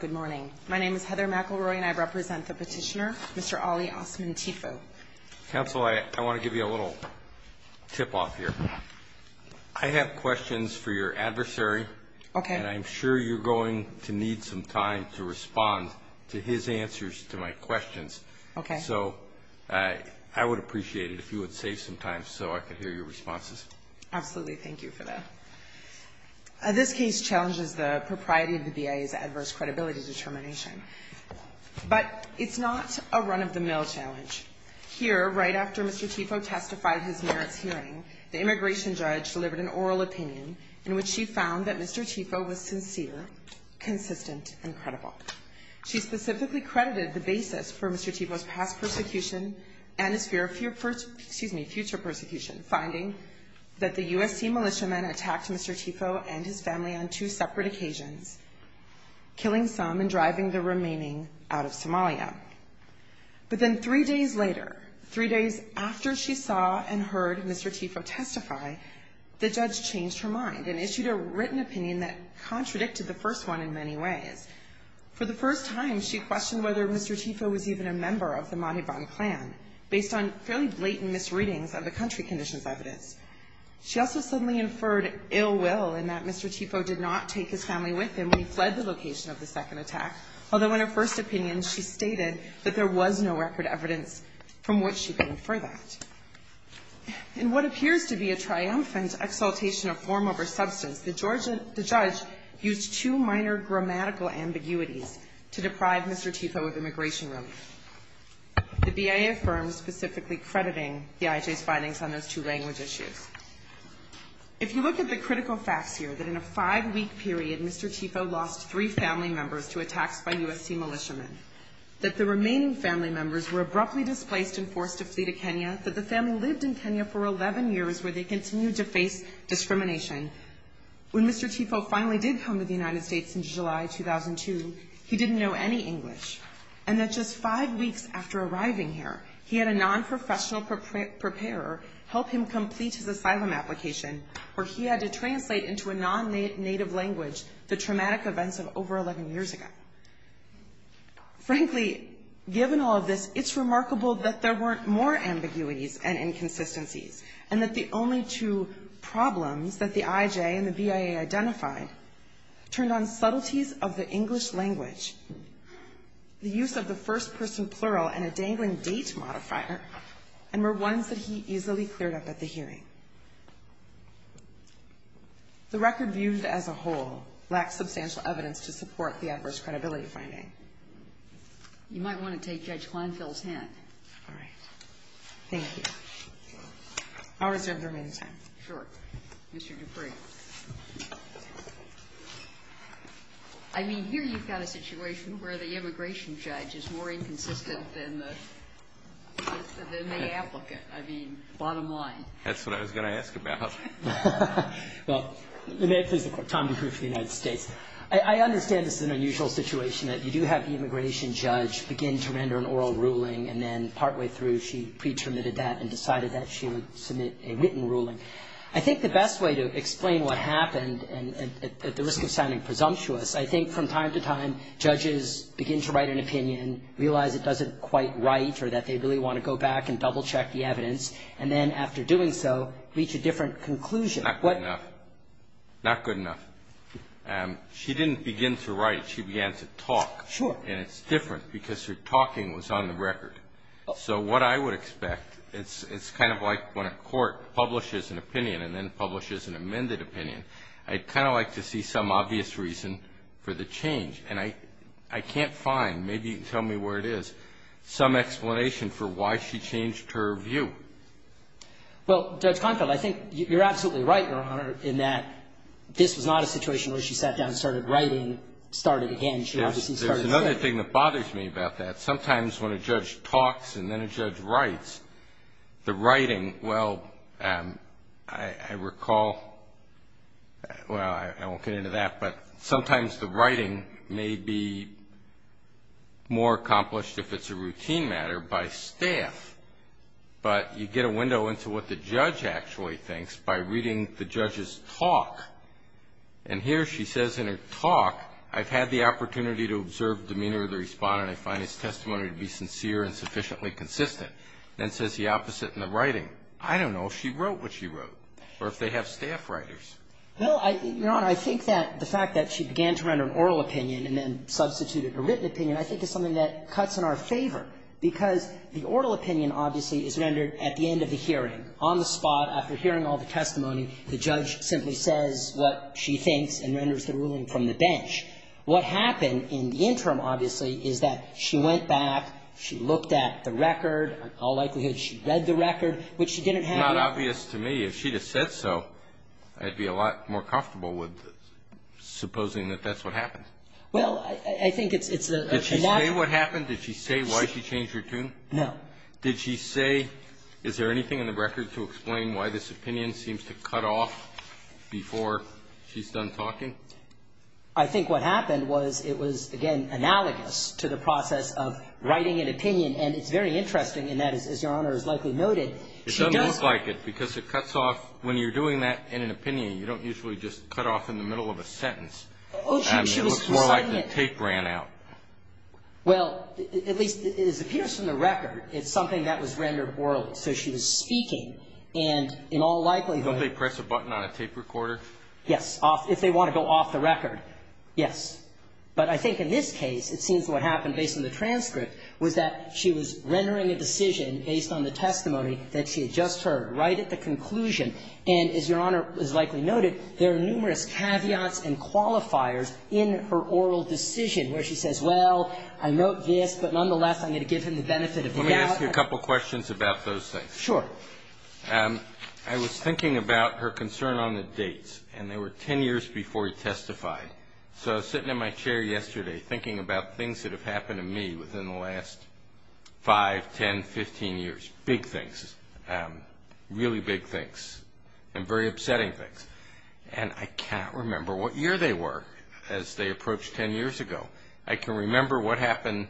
Good morning. My name is Heather McElroy and I represent the petitioner, Mr. Ali Osman Tifow. Counsel, I want to give you a little tip-off here. I have questions for your adversary. Okay. And I'm sure you're going to need some time to respond to his answers to my questions. Okay. So I would appreciate it if you would save some time so I could hear your responses. Absolutely. Thank you for that. This case challenges the propriety of the BIA's adverse credibility determination. But it's not a run-of-the-mill challenge. Here, right after Mr. Tifow testified in his merits hearing, the immigration judge delivered an oral opinion in which she found that Mr. Tifow was sincere, consistent, and credible. She specifically credited the basis for Mr. Tifow's past persecution and his fear of future persecution, finding that the USC militiamen attacked Mr. Tifow and his family on two separate occasions, killing some and driving the remaining out of Somalia. But then three days later, three days after she saw and heard Mr. Tifow testify, the judge changed her mind and issued a written opinion that contradicted the first one in many ways. For the first time, she questioned whether Mr. Tifow was even a member of the Mahiban clan, based on fairly blatant misreadings of the country conditions evidence. She also suddenly inferred ill will in that Mr. Tifow did not take his family with him when he fled the location of the second attack, although in her first opinion, she stated that there was no record evidence from which she could infer that. In what appears to be a triumphant exaltation of form over substance, the judge used two minor grammatical ambiguities to deprive Mr. Tifow of immigration relief. The BIA firm specifically crediting the IJ's findings on those two language issues. If you look at the critical facts here, that in a five-week period, Mr. Tifow lost three family members to attacks by USC militiamen, that the remaining family members were abruptly displaced and forced to flee to Kenya, that the family lived in Kenya for 11 years where they continued to face discrimination, when Mr. Tifow finally did come to the United States in July 2002, he didn't know any English, and that just five weeks after arriving here, he had a non-professional preparer help him complete his asylum application where he had to translate into a non-native language the traumatic events of over 11 years ago. Frankly, given all of this, it's remarkable that there weren't more ambiguities and inconsistencies, and that the only two problems that the IJ and the BIA identified turned on subtleties of the English language, the use of the first-person plural and a dangling date modifier, and were ones that he easily cleared up at the hearing. The record viewed as a whole lacks substantial evidence to support the adverse credibility finding. You might want to take Judge Kleinfeld's hand. All right. Thank you. I'll reserve the remaining time. Sure. Mr. Dupree. I mean, here you've got a situation where the immigration judge is more inconsistent than the applicant. I mean, bottom line. That's what I was going to ask about. Well, may it please the Court. Tom Dupree for the United States. I understand this is an unusual situation, that you do have the immigration judge begin to render an oral ruling, and then partway through she pre-terminated that and decided that she would submit a written ruling. I think the best way to explain what happened, and at the risk of sounding presumptuous, I think from time to time judges begin to write an opinion, realize it doesn't quite write, or that they really want to go back and double-check the evidence, and then after doing so, reach a different conclusion. Not good enough. She didn't begin to write it. She began to talk. Sure. And it's different because her talking was on the record. So what I would expect, it's kind of like when a court publishes an opinion and then publishes an amended opinion. I'd kind of like to see some obvious reason for the change. And I can't find, maybe you can tell me where it is, some explanation for why she changed her view. Well, Judge Konfield, I think you're absolutely right, Your Honor, in that this was not a situation where she sat down and started writing, started again. There's another thing that bothers me about that. Sometimes when a judge talks and then a judge writes, the writing, well, I recall, well, I won't get into that, but sometimes the writing may be more accomplished if it's a routine matter by staff. But you get a window into what the judge actually thinks by reading the judge's talk. And here she says in her talk, I've had the opportunity to observe the demeanor of the respondent. I find his testimony to be sincere and sufficiently consistent. Then it says the opposite in the writing. I don't know if she wrote what she wrote or if they have staff writers. Well, I think, Your Honor, I think that the fact that she began to render an oral opinion and then substituted a written opinion I think is something that cuts in our favor because the oral opinion, obviously, is rendered at the end of the hearing, on the spot. After hearing all the testimony, the judge simply says what she thinks and renders the ruling from the bench. What happened in the interim, obviously, is that she went back, she looked at the record. In all likelihood, she read the record, which she didn't have to. It's not obvious to me. If she'd have said so, I'd be a lot more comfortable with supposing that that's what happened. Well, I think it's a natural. Did she say what happened? Did she say why she changed her tune? No. Did she say, is there anything in the record to explain why this opinion seems to cut off before she's done talking? I think what happened was it was, again, analogous to the process of writing an opinion. And it's very interesting in that, as Your Honor has likely noted, she does go to court. It doesn't look like it because it cuts off. When you're doing that in an opinion, you don't usually just cut off in the middle of a sentence. Oh, she was reciting it. It looks more like the tape ran out. Well, at least it appears from the record it's something that was rendered orally. So she was speaking. And in all likelihood Don't they press a button on a tape recorder? Yes. If they want to go off the record, yes. But I think in this case, it seems what happened based on the transcript was that she was rendering a decision based on the testimony that she had just heard right at the conclusion. And as Your Honor has likely noted, there are numerous caveats and qualifiers in her oral decision where she says, well, I note this, but nonetheless, I'm going to give him the benefit of the doubt. Let me ask you a couple questions about those things. Sure. I was thinking about her concern on the dates, and they were 10 years before he testified. So I was sitting in my chair yesterday thinking about things that have happened to me within the last 5, 10, 15 years, big things, really big things. And very upsetting things. And I can't remember what year they were as they approached 10 years ago. I can remember what happened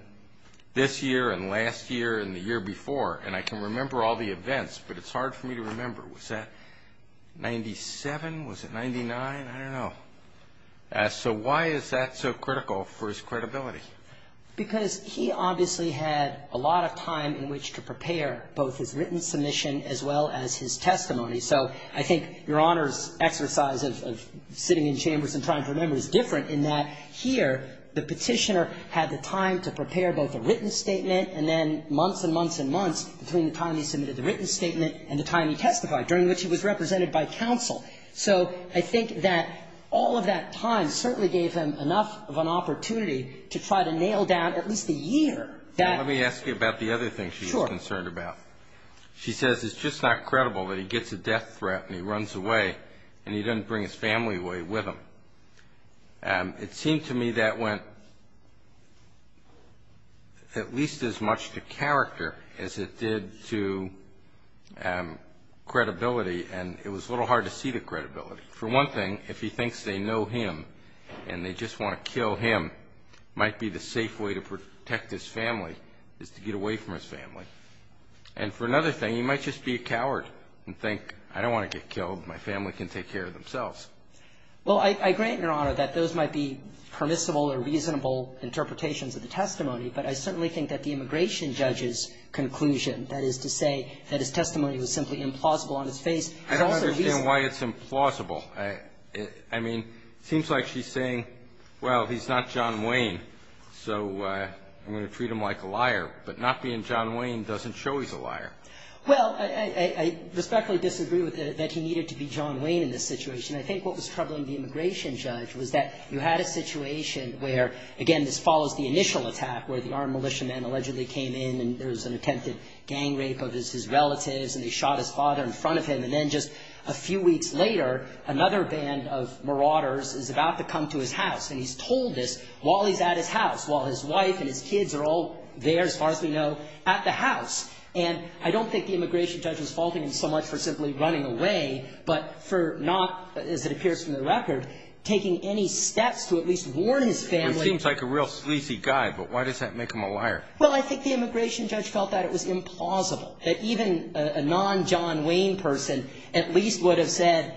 this year and last year and the year before. And I can remember all the events, but it's hard for me to remember. Was that 97? Was it 99? I don't know. So why is that so critical for his credibility? Because he obviously had a lot of time in which to prepare both his written submission as well as his testimony. So I think Your Honor's exercise of sitting in chambers and trying to remember is different in that here the Petitioner had the time to prepare both a written statement and then months and months and months between the time he submitted the written statement and the time he testified, during which he was represented by counsel. So I think that all of that time certainly gave him enough of an opportunity to try to nail down at least a year. Let me ask you about the other thing she was concerned about. Sure. She says it's just not credible that he gets a death threat and he runs away and he doesn't bring his family away with him. It seemed to me that went at least as much to character as it did to credibility, and it was a little hard to see the credibility. For one thing, if he thinks they know him and they just want to kill him, it might be the safe way to protect his family is to get away from his family. And for another thing, he might just be a coward and think, I don't want to get killed. My family can take care of themselves. Well, I agree, Your Honor, that those might be permissible or reasonable interpretations of the testimony, but I certainly think that the immigration judge's conclusion, that is to say that his testimony was simply implausible on his face. I don't understand why it's implausible. I mean, it seems like she's saying, well, he's not John Wayne, so I'm going to treat him like a liar. But not being John Wayne doesn't show he's a liar. Well, I respectfully disagree that he needed to be John Wayne in this situation. I think what was troubling the immigration judge was that you had a situation where, again, this follows the initial attack, where the armed militiamen allegedly came in and there was an attempted gang rape of his relatives and they shot his father in front of him. And then just a few weeks later, another band of marauders is about to come to his house, and he's told this while he's at his house, while his wife and his kids are all there, as far as we know, at the house. And I don't think the immigration judge was faulting him so much for simply running away, but for not, as it appears from the record, taking any steps to at least warn his family. It seems like a real sleazy guy, but why does that make him a liar? Well, I think the immigration judge felt that it was implausible, that even a non-John Wayne person at least would have said,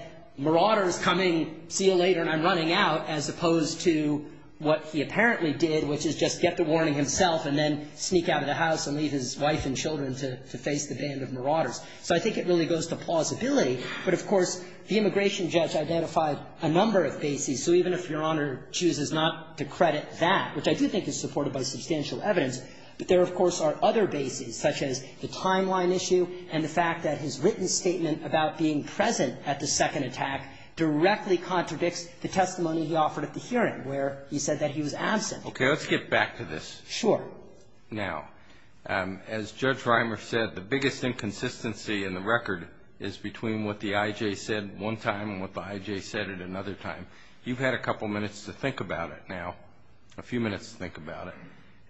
see you later and I'm running out, as opposed to what he apparently did, which is just get the warning himself and then sneak out of the house and leave his wife and children to face the band of marauders. So I think it really goes to plausibility. But, of course, the immigration judge identified a number of bases. So even if Your Honor chooses not to credit that, which I do think is supported by substantial evidence, but there, of course, are other bases, such as the timeline issue and the fact that his written statement about being present at the second attack directly contradicts the testimony he offered at the hearing, where he said that he was absent. Okay. Let's get back to this. Sure. Now, as Judge Reimer said, the biggest inconsistency in the record is between what the I.J. said one time and what the I.J. said at another time. You've had a couple minutes to think about it now, a few minutes to think about it,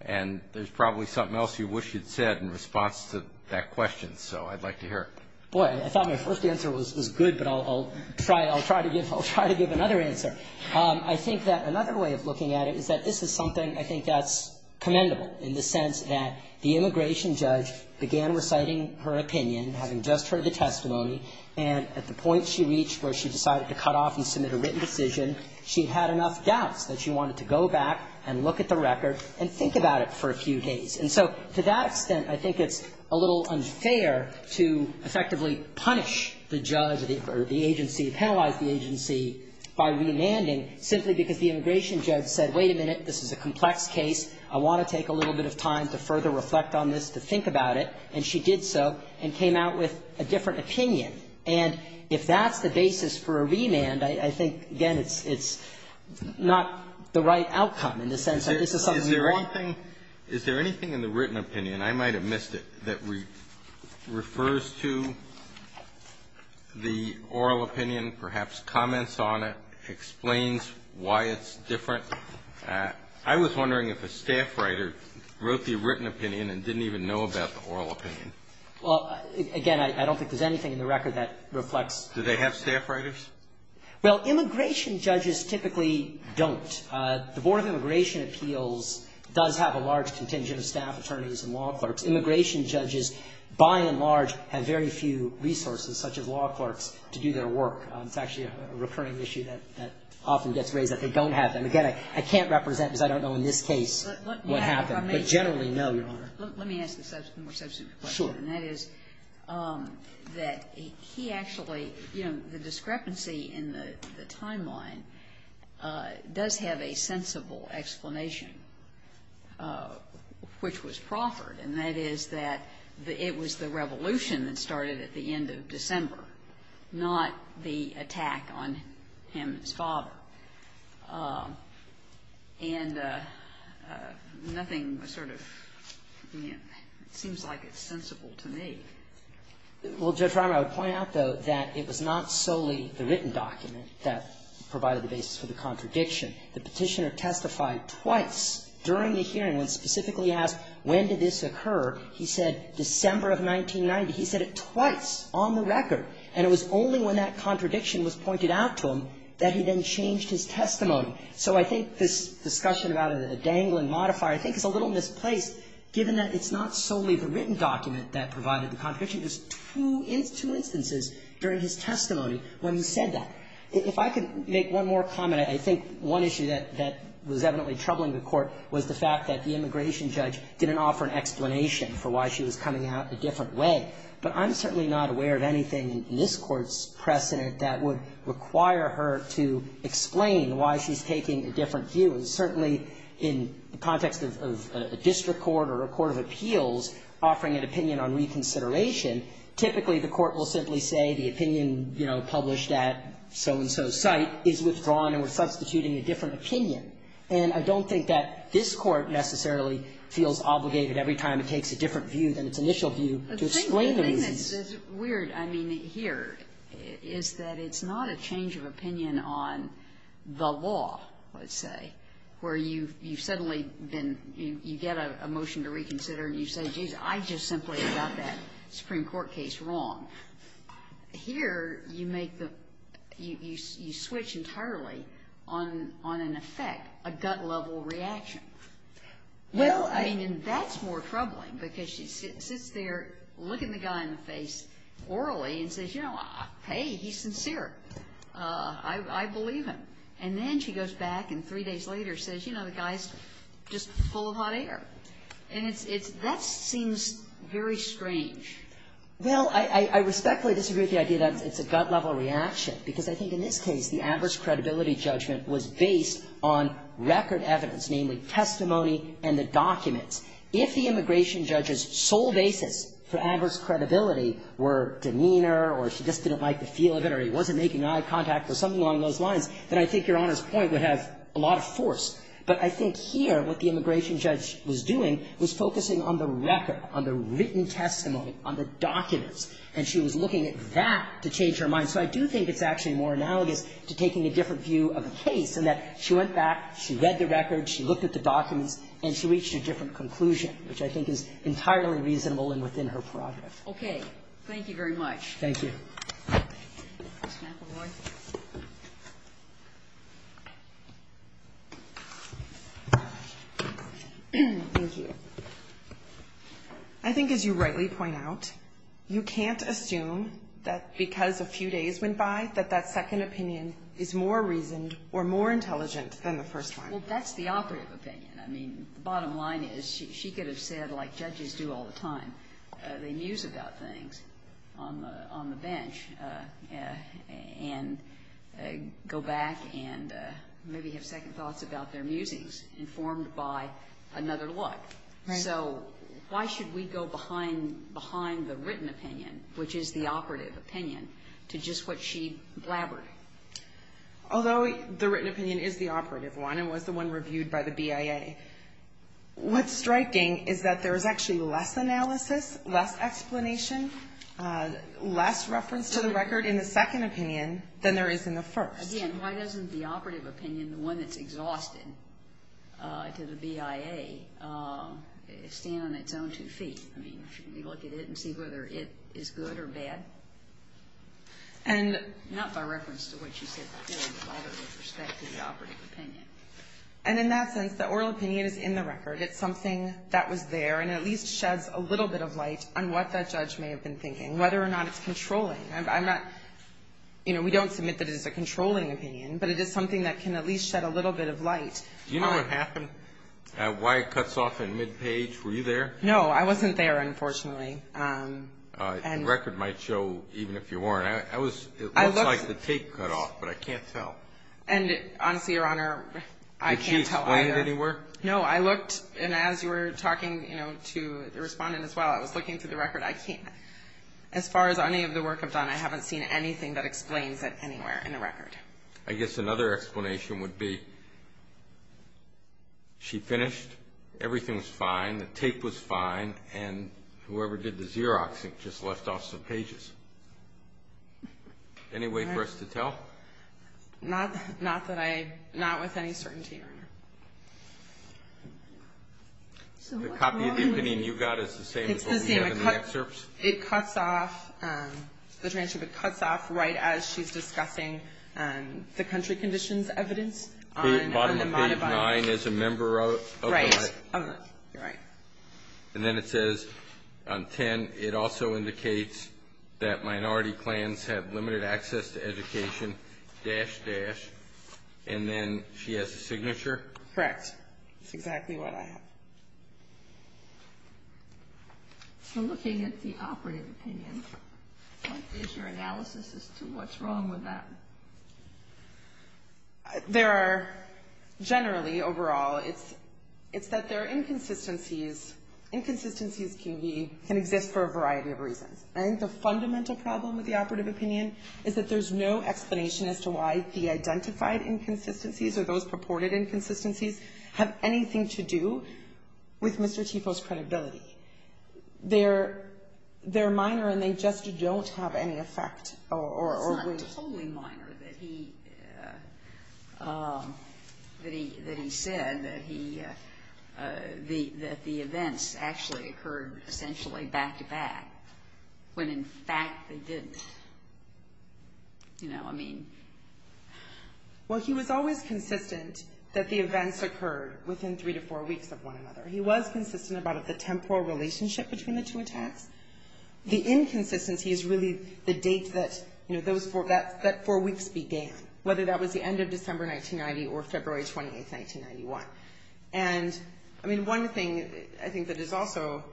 and there's probably something else you wish you'd said in response to that question, so I'd like to hear it. Boy, I thought my first answer was good, but I'll try to give another answer. I think that another way of looking at it is that this is something I think that's commendable, in the sense that the immigration judge began reciting her opinion, having just heard the testimony, and at the point she reached where she decided to cut off and submit a written decision, she had enough doubts that she wanted to go back and look at the record and think about it for a few days. And so to that extent, I think it's a little unfair to effectively punish the judge or the agency, penalize the agency, by remanding simply because the immigration judge said, wait a minute, this is a complex case, I want to take a little bit of time to further reflect on this, to think about it, and she did so and came out with a different opinion. And if that's the basis for a remand, I think, again, it's not the right outcome in the sense that this is something that's correct. Kennedy. Is there anything in the written opinion, I might have missed it, that refers to the oral opinion, perhaps comments on it, explains why it's different? I was wondering if a staff writer wrote the written opinion and didn't even know about the oral opinion. Well, again, I don't think there's anything in the record that reflects that. Do they have staff writers? Well, immigration judges typically don't. The Board of Immigration Appeals does have a large contingent of staff attorneys and law clerks. Immigration judges, by and large, have very few resources, such as law clerks, to do their work. It's actually a recurring issue that often gets raised, that they don't have them. Again, I can't represent because I don't know in this case what happened. But generally, no, Your Honor. Let me ask a more substantive question. Sure. And that is that he actually, you know, the discrepancy in the timeline does have a sensible explanation, which was proffered, and that is that it was the revolution that started at the end of December, not the attack on Hammond's father. And nothing sort of seems like it's sensible to me. Well, Judge Reimer, I would point out, though, that it was not solely the written document that provided the basis for the contradiction. The Petitioner testified twice during the hearing when specifically asked when did this occur. He said December of 1990. He said it twice on the record. And it was only when that contradiction was pointed out to him that he then changed his testimony. So I think this discussion about a dangling modifier I think is a little misplaced, given that it's not solely the written document that provided the contradiction. There's two instances during his testimony when he said that. If I could make one more comment, I think one issue that was evidently troubling the Court was the fact that the immigration judge didn't offer an explanation for why she was coming out a different way. But I'm certainly not aware of anything in this Court's precedent that would require her to explain why she's taking a different view. And certainly in the context of a district court or a court of appeals offering an opinion on reconsideration, typically the Court will simply say the opinion, you know, published at so-and-so's site is withdrawn and we're substituting a different opinion. And I don't think that this Court necessarily feels obligated every time it takes a different view than its initial view to explain the reasons. The thing that's weird, I mean, here is that it's not a change of opinion on the law, let's say, where you've suddenly been, you get a motion to reconsider and you say, geez, I just simply got that Supreme Court case wrong. Here you make the, you switch entirely on an effect, a gut-level reaction. Well, I mean, that's more troubling because she sits there looking the guy in the face orally and says, you know, hey, he's sincere. I believe him. And then she goes back and three days later says, you know, the guy's just full of hot air. And that seems very strange. Well, I respectfully disagree with the idea that it's a gut-level reaction because I think in this case the adverse credibility judgment was based on record evidence, namely testimony and the documents. If the immigration judge's sole basis for adverse credibility were demeanor or she just didn't like the feel of it or he wasn't making eye contact or something along those lines, then I think Your Honor's point would have a lot of force. But I think here what the immigration judge was doing was focusing on the record, on the written testimony, on the documents. And she was looking at that to change her mind. So I do think it's actually more analogous to taking a different view of a case in that she went back, she read the records, she looked at the documents, and she reached a different conclusion, which I think is entirely reasonable and within her prerogative. Okay. Thank you very much. Thank you. Ms. McElroy. Thank you. I think as you rightly point out, you can't assume that because a few days went by that that second opinion is more reasoned or more intelligent than the first one. Well, that's the operative opinion. I mean, the bottom line is she could have said, like judges do all the time, they muse about things on the bench and go back and maybe have second thoughts about their musings informed by another look. Right. So why should we go behind the written opinion, which is the operative opinion, to just what she blabbered? Although the written opinion is the operative one and was the one reviewed by the BIA, what's striking is that there is actually less analysis, less explanation, less reference to the record in the second opinion than there is in the first. Again, why doesn't the operative opinion, the one that's exhausted to the BIA, stand on its own two feet? I mean, if you look at it and see whether it is good or bad, not by reference to what you said earlier, but by the respect to the operative opinion. And in that sense, the oral opinion is in the record. It's something that was there, and it at least sheds a little bit of light on what that judge may have been thinking, whether or not it's controlling. I'm not, you know, we don't submit that it is a controlling opinion, but it is something that can at least shed a little bit of light. Do you know what happened? Why it cuts off in mid-page? Were you there? No. I wasn't there, unfortunately. The record might show, even if you weren't. It looks like the tape cut off, but I can't tell. And honestly, Your Honor, I can't tell either. Did she explain it anywhere? No. I looked, and as you were talking to the Respondent as well, I was looking through the record. I can't. As far as any of the work I've done, I haven't seen anything that explains it anywhere in the record. I guess another explanation would be she finished, everything was fine, the tape was fine, and whoever did the Xeroxing just left off some pages. All right. Any way for us to tell? Not that I, not with any certainty, Your Honor. So what's wrong with it? The copy of the opinion you got is the same as what we have in the excerpt? It cuts off, the transcript cuts off right as she's discussing the country conditions evidence on the Monobon. Bottom of page 9 is a member of the tribe. Right. And then it says on 10, it also indicates that minority clans have limited access to education, dash, dash, and then she has a signature. Correct. That's exactly what I have. So looking at the operative opinion, what is your analysis as to what's wrong with that? There are generally, overall, it's that there are inconsistencies. Inconsistencies can exist for a variety of reasons. I think the fundamental problem with the operative opinion is that there's no explanation as to why the identified inconsistencies or those purported inconsistencies have anything to do with Mr. Tifo's credibility. They're minor and they just don't have any effect or weight. It's not totally minor that he said that the events actually occurred essentially back-to-back, when in fact they didn't. You know, I mean. Well, he was always consistent that the events occurred within three to four weeks of one another. He was consistent about the temporal relationship between the two attacks. The inconsistency is really the date that, you know, that four weeks began, whether that was the end of December 1990 or February 28, 1991. And, I mean, one thing I think that is also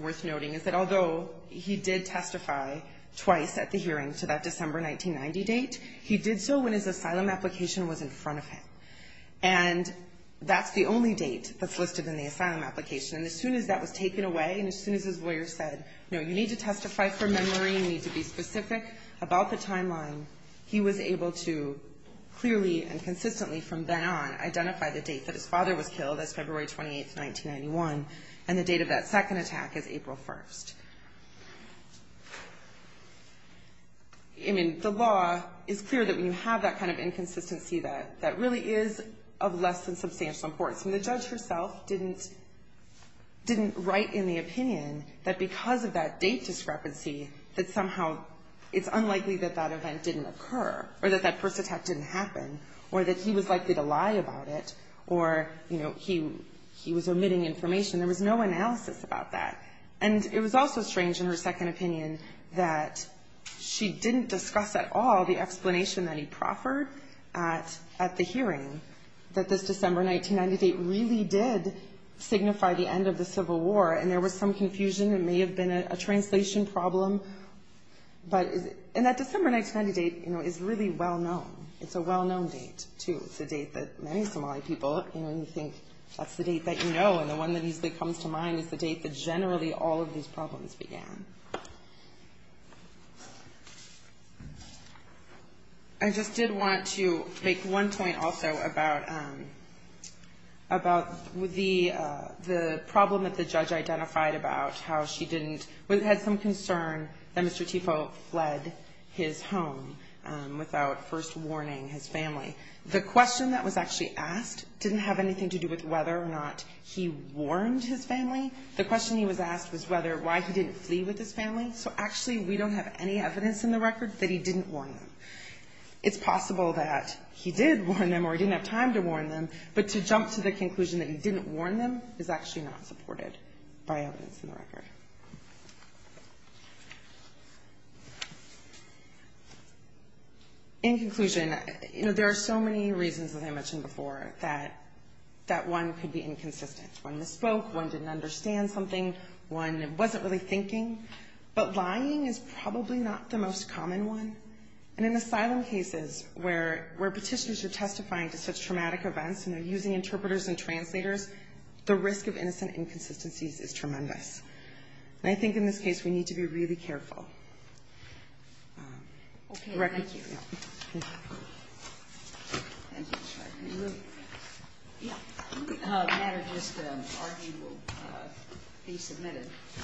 worth noting is that although he did testify twice at the hearing to that December 1990 date, he did so when his asylum application was in front of him. And that's the only date that's listed in the asylum application. And as soon as that was taken away and as soon as his lawyer said, no, you need to testify from memory, you need to be specific about the timeline, he was able to clearly and consistently from then on identify the date that his father was killed, that's February 28, 1991, and the date of that second attack is April 1. I mean, the law is clear that when you have that kind of inconsistency, that really is of less than substantial importance. I mean, the judge herself didn't write in the opinion that because of that date discrepancy, that somehow it's unlikely that that event didn't occur or that that first attack didn't happen or that he was likely to lie about it or, you know, he was omitting information. There was no analysis about that. And it was also strange in her second opinion that she didn't discuss at all the explanation that he proffered at the hearing, that this December 1990 date really did signify the end of the Civil War. And there was some confusion. It may have been a translation problem. And that December 1990 date, you know, is really well-known. It's a well-known date, too. It's a date that many Somali people, you know, think that's the date that you know, and the one that usually comes to mind is the date that generally all of these problems began. I just did want to make one point also about the problem that the judge identified about how she didn't or had some concern that Mr. Tipo fled his home without first warning his family. The question that was actually asked didn't have anything to do with whether or not he warned his family. The question he was asked was whether why he didn't flee with his family. So actually we don't have any evidence in the record that he didn't warn them. It's possible that he did warn them or he didn't have time to warn them, but to jump to the conclusion that he didn't warn them is actually not supported by evidence in the record. In conclusion, you know, there are so many reasons, as I mentioned before, that one could be inconsistent. One misspoke. One didn't understand something. One wasn't really thinking. But lying is probably not the most common one. And in asylum cases where petitioners are testifying to such traumatic events and they're using interpreters and translators, the risk of innocent inconsistencies is tremendous. And I think in this case we need to be really careful. Okay. Thank you. Thank you. Thank you. Yeah. Thank you. Thank you. Thank you. Thank you.